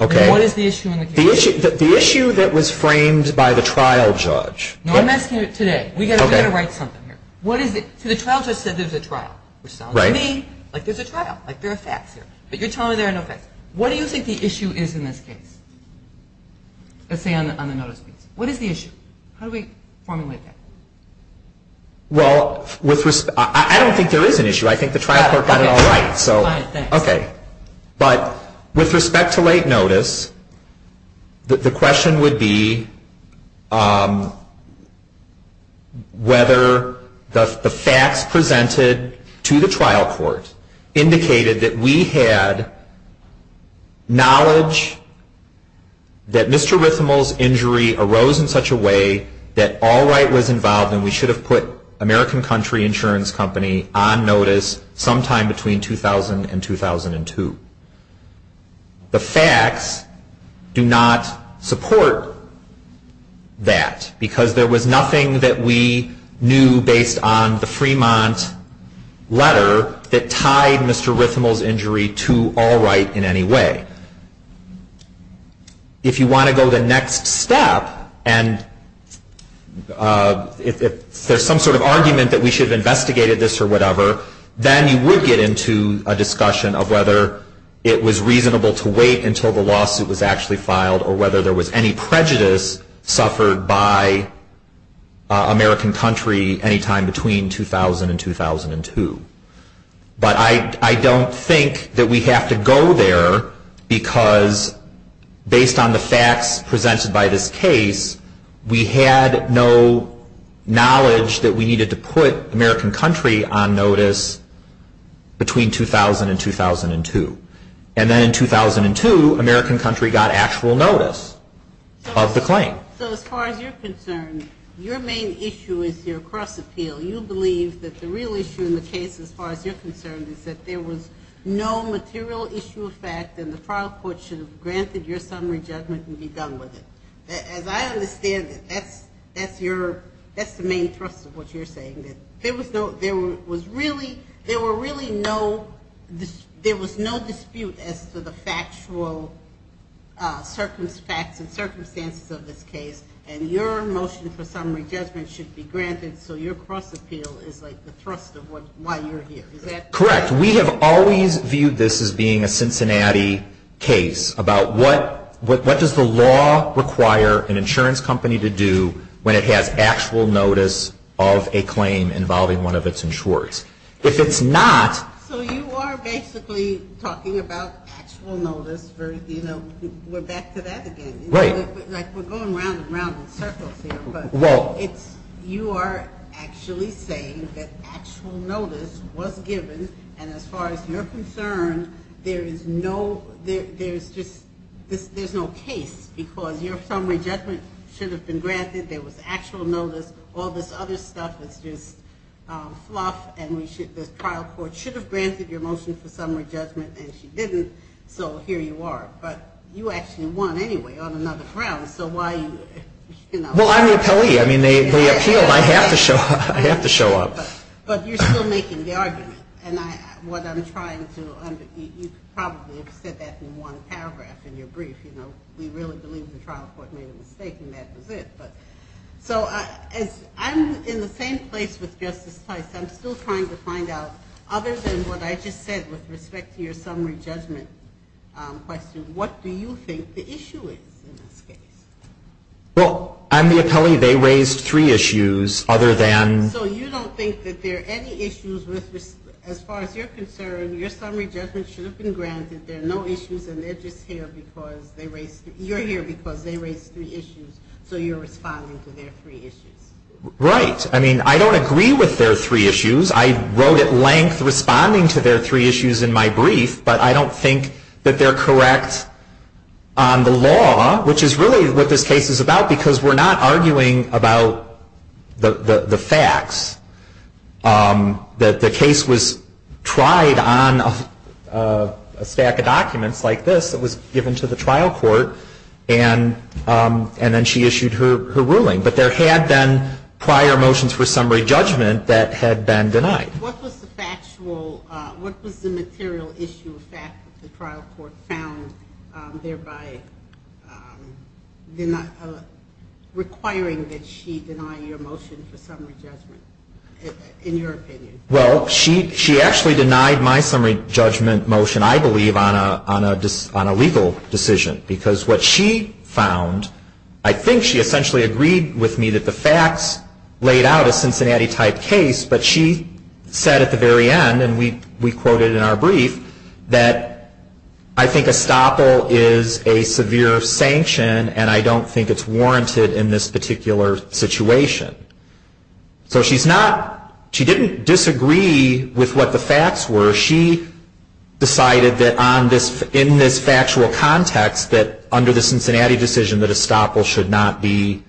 Okay. What is the issue in the case? The issue that was framed by the trial judge. No, I'm asking you today. We've got to write something here. What is it? So the trial judge said there's a trial, which sounds to me like there's a trial, like there are facts here. But you're telling me there are no facts. What do you think the issue is in this case? Let's say on the notice piece. What is the issue? How do we formulate that? Well, I don't think there is an issue. I think the trial court got it all right. Okay. But with respect to late notice, the question would be whether the facts presented to the trial court indicated that we had knowledge that Mr. Rithamel's injury arose in such a way that Allwright was involved and we knew this sometime between 2000 and 2002. The facts do not support that because there was nothing that we knew based on the Fremont letter that tied Mr. Rithamel's injury to Allwright in any way. If you want to go the next step and if there's some sort of argument that we should have investigated this or whatever, then you would get into a discussion of whether it was reasonable to wait until the lawsuit was actually filed or whether there was any prejudice suffered by American country anytime between 2000 and 2002. But I don't think that we have to go there because based on the facts we know that there was no prejudice suffered by American country on notice between 2000 and 2002. And then in 2002, American country got actual notice of the claim. So as far as you're concerned, your main issue is your cross appeal. You believe that the real issue in the case as far as you're concerned is that there was no material issue of fact and the trial court should have granted your summary judgment and be done with it. As I understand it, that's the main thrust of what you're saying. There was really no dispute as to the factual facts and circumstances of this case and your motion for summary judgment should be granted so your cross appeal is like the thrust of why you're here. Correct. We have always viewed this as being a Cincinnati case about what does the law require an insurance company to do when it has actual notice of a claim involving one of its insurers. If it's not. So you are basically talking about actual notice, you know, we're back to that again. Right. Like we're going round and round in circles here. You are actually saying that actual notice was given and as far as you're concerned, there is no, there's just, there's no case because your summary judgment should have been granted, there was actual notice, all this other stuff is just fluff and we should, the trial court should have granted your motion for summary judgment and she didn't so here you are. But you actually won anyway on another ground so why, you know. Well, I'm the appellee. I mean, they appealed. I have to show up. But you're still making the argument and what I'm trying to, you probably have said that in one paragraph in your brief, you know, we really believe the trial court made a mistake and that was it. So I'm in the same place with Justice Tice. I'm still trying to find out other than what I just said with respect to your summary judgment question, what do you think the issue is in this case? Well, I'm the appellee. They raised three issues other than. So you don't think that there are any issues with, as far as you're concerned, your summary judgment should have been granted. There are no issues and they're just here because they raised, you're here because they raised three issues so you're responding to their three issues. Right. I mean, I don't agree with their three issues. I wrote at length responding to their three issues in my brief but I don't think that they're correct on the law, which is really what this case is about because we're not arguing about the facts. The case was tried on a stack of documents like this that was given to the trial court and then she issued her ruling. But there had been prior motions for summary judgment that had been denied. What was the factual, what was the material issue of fact that the trial court found thereby requiring that she deny your motion for summary judgment, in your opinion? Well, she actually denied my summary judgment motion, I believe, on a legal decision because what she found, I think she essentially agreed with me that the she said at the very end and we quoted in our brief that I think estoppel is a severe sanction and I don't think it's warranted in this particular situation. So she's not, she didn't disagree with what the facts were. She decided that on this, in this factual context that under the Cincinnati decision that estoppel should not be,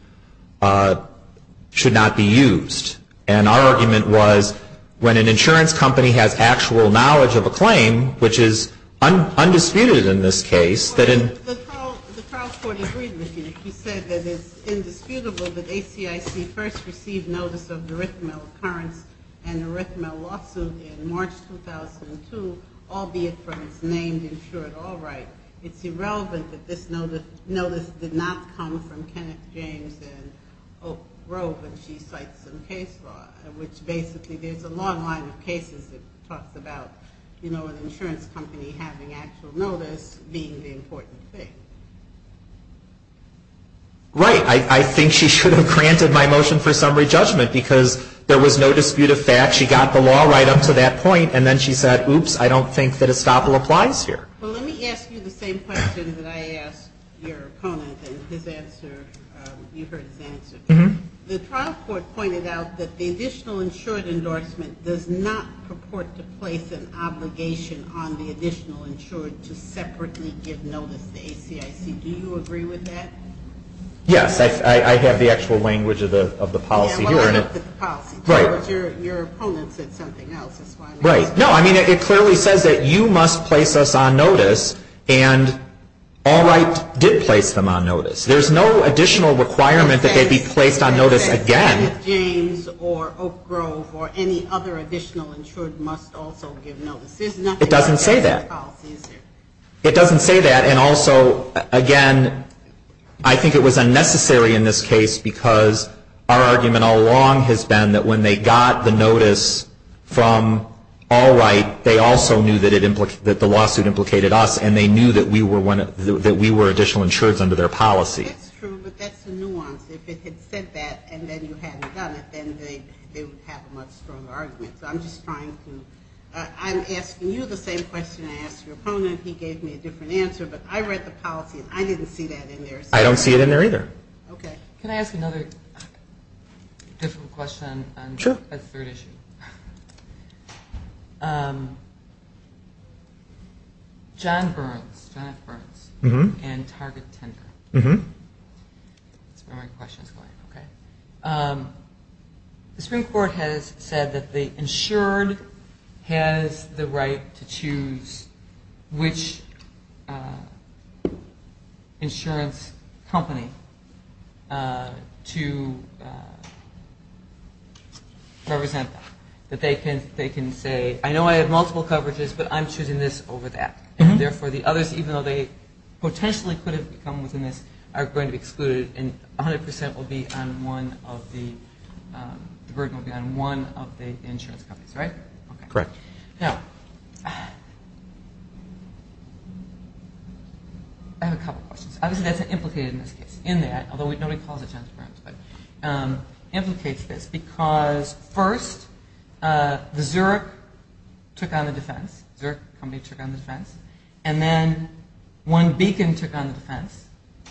should not be used. And our argument was when an insurance company has actual knowledge of a claim, which is undisputed in this case, that in The trial court agreed with you. She said that it's indisputable that ACIC first received notice of the erythemal occurrence and erythemal lawsuit in March 2002, albeit from its named insured all right. It's irrelevant that this notice did not come from Kenneth James and Oak Grove when she cites some case law, which basically there's a long line of cases that talks about, you know, an insurance company having actual notice being the important thing. Right. I think she should have granted my motion for summary judgment because there was no dispute of fact. She got the law right up to that point and then she said, oops, I don't think that estoppel applies here. Well, let me ask you the same question that I asked your opponent and his answer, you heard his answer. The trial court pointed out that the additional insured endorsement does not purport to place an obligation on the additional insured to separately give notice to ACIC. Do you agree with that? Yes. I have the actual language of the policy here. Well, not the policy. Right. Your opponent said something else. Right. No, I mean, it clearly says that you must place us on notice. And Allwright did place them on notice. There's no additional requirement that they be placed on notice again. Kenneth James or Oak Grove or any other additional insured must also give notice. There's nothing else in the policy. It doesn't say that. It doesn't say that. And also, again, I think it was unnecessary in this case because our argument all along has been that when they got the notice from Allwright, they also knew that the lawsuit implicated us and they knew that we were additional insureds under their policy. That's true, but that's the nuance. If it had said that and then you hadn't done it, then they would have a much stronger argument. So I'm just trying to – I'm asking you the same question I asked your opponent. He gave me a different answer. But I read the policy and I didn't see that in there. I don't see it in there either. Okay. Can I ask another difficult question on a third issue? Sure. John Burns, John F. Burns and Target Tender. That's where my question is going. Okay. The Supreme Court has said that the insured has the right to choose which insurance company to represent that. They can say, I know I have multiple coverages, but I'm choosing this over that. Therefore, the others, even though they potentially could have become within this, are going to be excluded and 100% will be on one of the – the burden will be on one of the insurance companies, right? Correct. Now, I have a couple of questions. Obviously, that's implicated in this case. In that, although nobody calls it John F. Burns, but implicates this because first, the Zurich took on the defense. Zurich company took on the defense. And then One Beacon took on the defense.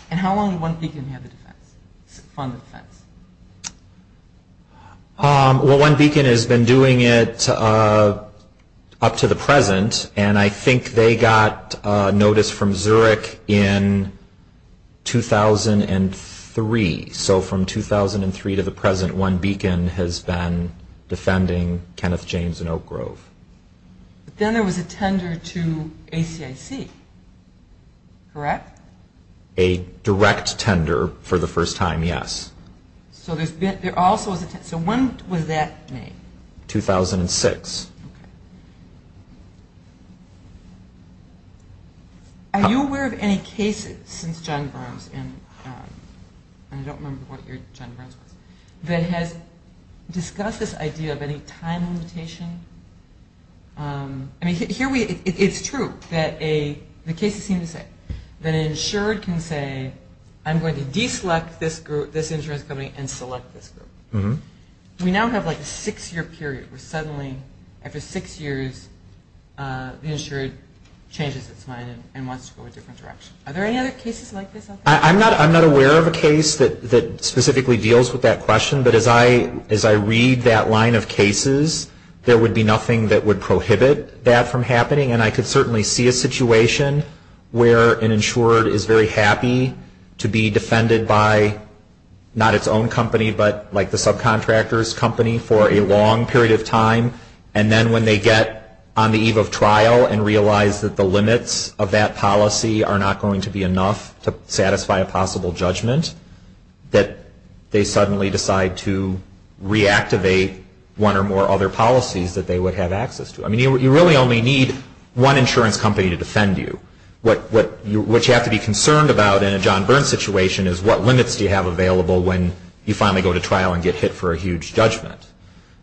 And how long did One Beacon have the defense, fund the defense? Well, One Beacon has been doing it up to the present. And I think they got notice from Zurich in 2003. So from 2003 to the present, One Beacon has been defending Kenneth James and Oak Grove. Then there was a tender to ACIC, correct? A direct tender for the first time, yes. So when was that made? 2006. Are you aware of any cases since John Burns, and I don't remember what your John Burns was, that has discussed this idea of any time limitation? I mean, it's true that the cases seem to say that an insured can say, I'm going to deselect this insurance company and select this group. We now have like a six-year period where suddenly, after six years, the insured changes its mind and wants to go a different direction. Are there any other cases like this out there? I'm not aware of a case that specifically deals with that question. But as I read that line of cases, there would be nothing that would prohibit that from happening, and I could certainly see a situation where an insured is very happy to be defended by not its own company, but like the subcontractor's company for a long period of time. And then when they get on the eve of trial and realize that the limits of that policy are not going to be enough to satisfy a possible judgment, that they suddenly decide to reactivate one or more other policies that they would have access to. I mean, you really only need one insurance company to defend you. What you have to be concerned about in a John Burns situation is what limits do you have available when you finally go to trial and get hit for a huge judgment.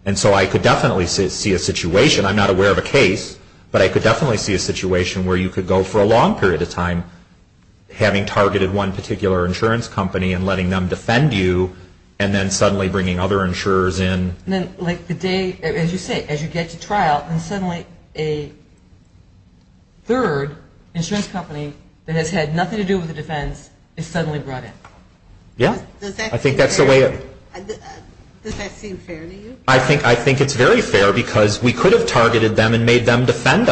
And so I could definitely see a situation, I'm not aware of a case, but I could definitely see a situation where you could go for a long period of time having targeted one particular insurance company and letting them defend you, and then suddenly bringing other insurers in. Then like the day, as you say, as you get to trial, and suddenly a third insurance company that has had nothing to do with the defense is suddenly brought in. Yeah. Does that seem fair to you? I think it's very fair because we could have targeted them and made them prefer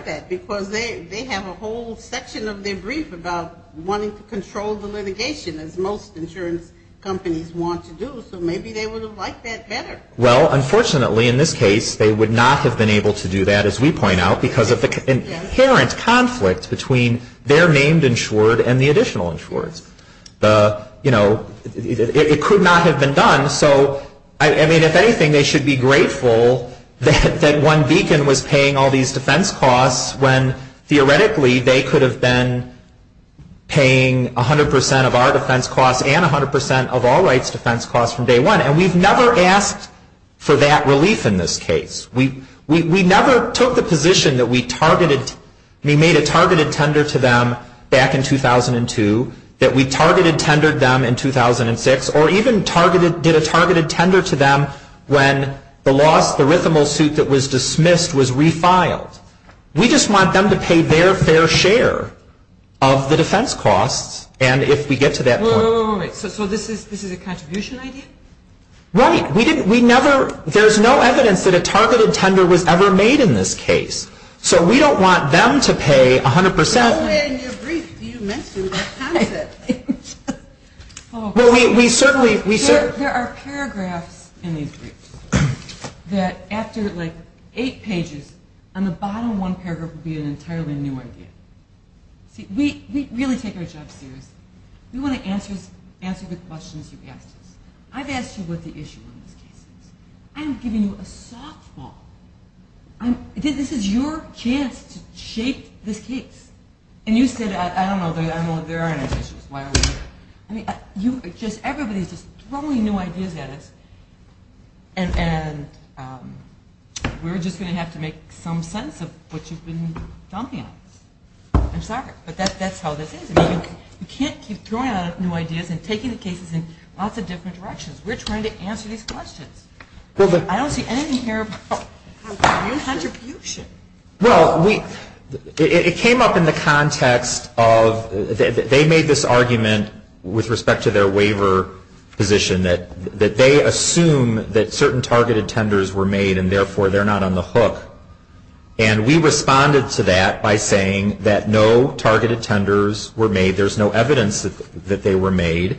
that because they have a whole section of their brief about wanting to control the litigation, as most insurance companies want to do. So maybe they would have liked that better. Well, unfortunately, in this case, they would not have been able to do that, as we point out, because of the inherent conflict between their named insured and the additional insured. You know, it could not have been done. So, I mean, if anything, they should be grateful that one beacon was paying all these defense costs when theoretically they could have been paying 100% of our defense costs and 100% of all rights defense costs from day one. And we've never asked for that relief in this case. We never took the position that we made a targeted tender to them back in 2002, that we targeted tendered them in 2006, or even did a targeted tender to them when the loss, the rhythmal suit that was dismissed was refiled. We just want them to pay their fair share of the defense costs. And if we get to that point. So this is a contribution idea? Right. We didn't, we never, there's no evidence that a targeted tender was ever made in this case. So we don't want them to pay 100%. No way in your brief do you mention that concept. Well, we certainly. There are paragraphs in these briefs that after like eight pages, on the bottom one paragraph would be an entirely new idea. See, we really take our jobs serious. We want to answer the questions you've asked us. I've asked you what the issue in this case is. I'm giving you a softball. This is your chance to shape this case. And you said, I don't know, there aren't any issues. Why are we here? I mean, everybody's just throwing new ideas at us. And we're just going to have to make some sense of what you've been dumping on us. I'm sorry. But that's how this is. You can't keep throwing out new ideas and taking the cases in lots of different directions. We're trying to answer these questions. I don't see anything here about contribution. Well, it came up in the context of, they made this argument with respect to their waiver position, that they assume that certain targeted tenders were made and, therefore, they're not on the hook. And we responded to that by saying that no targeted tenders were made. There's no evidence that they were made.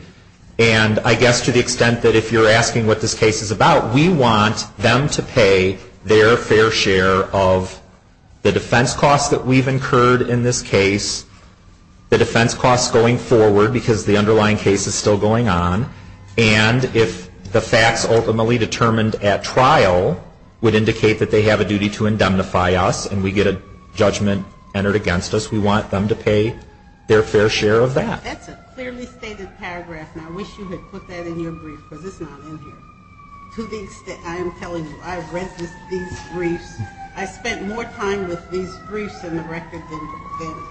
And I guess to the extent that if you're asking what this case is about, we want them to pay their fair share of the defense costs that we've incurred in this case, the defense costs going forward because the underlying case is still going on, and if the facts ultimately determined at trial would indicate that they have a duty to indemnify us and we get a judgment entered against us, we want them to pay their fair share of that. That's a clearly stated paragraph, and I wish you had put that in your brief because it's not in here. To the extent, I am telling you, I read these briefs. I spent more time with these briefs in the record than I could.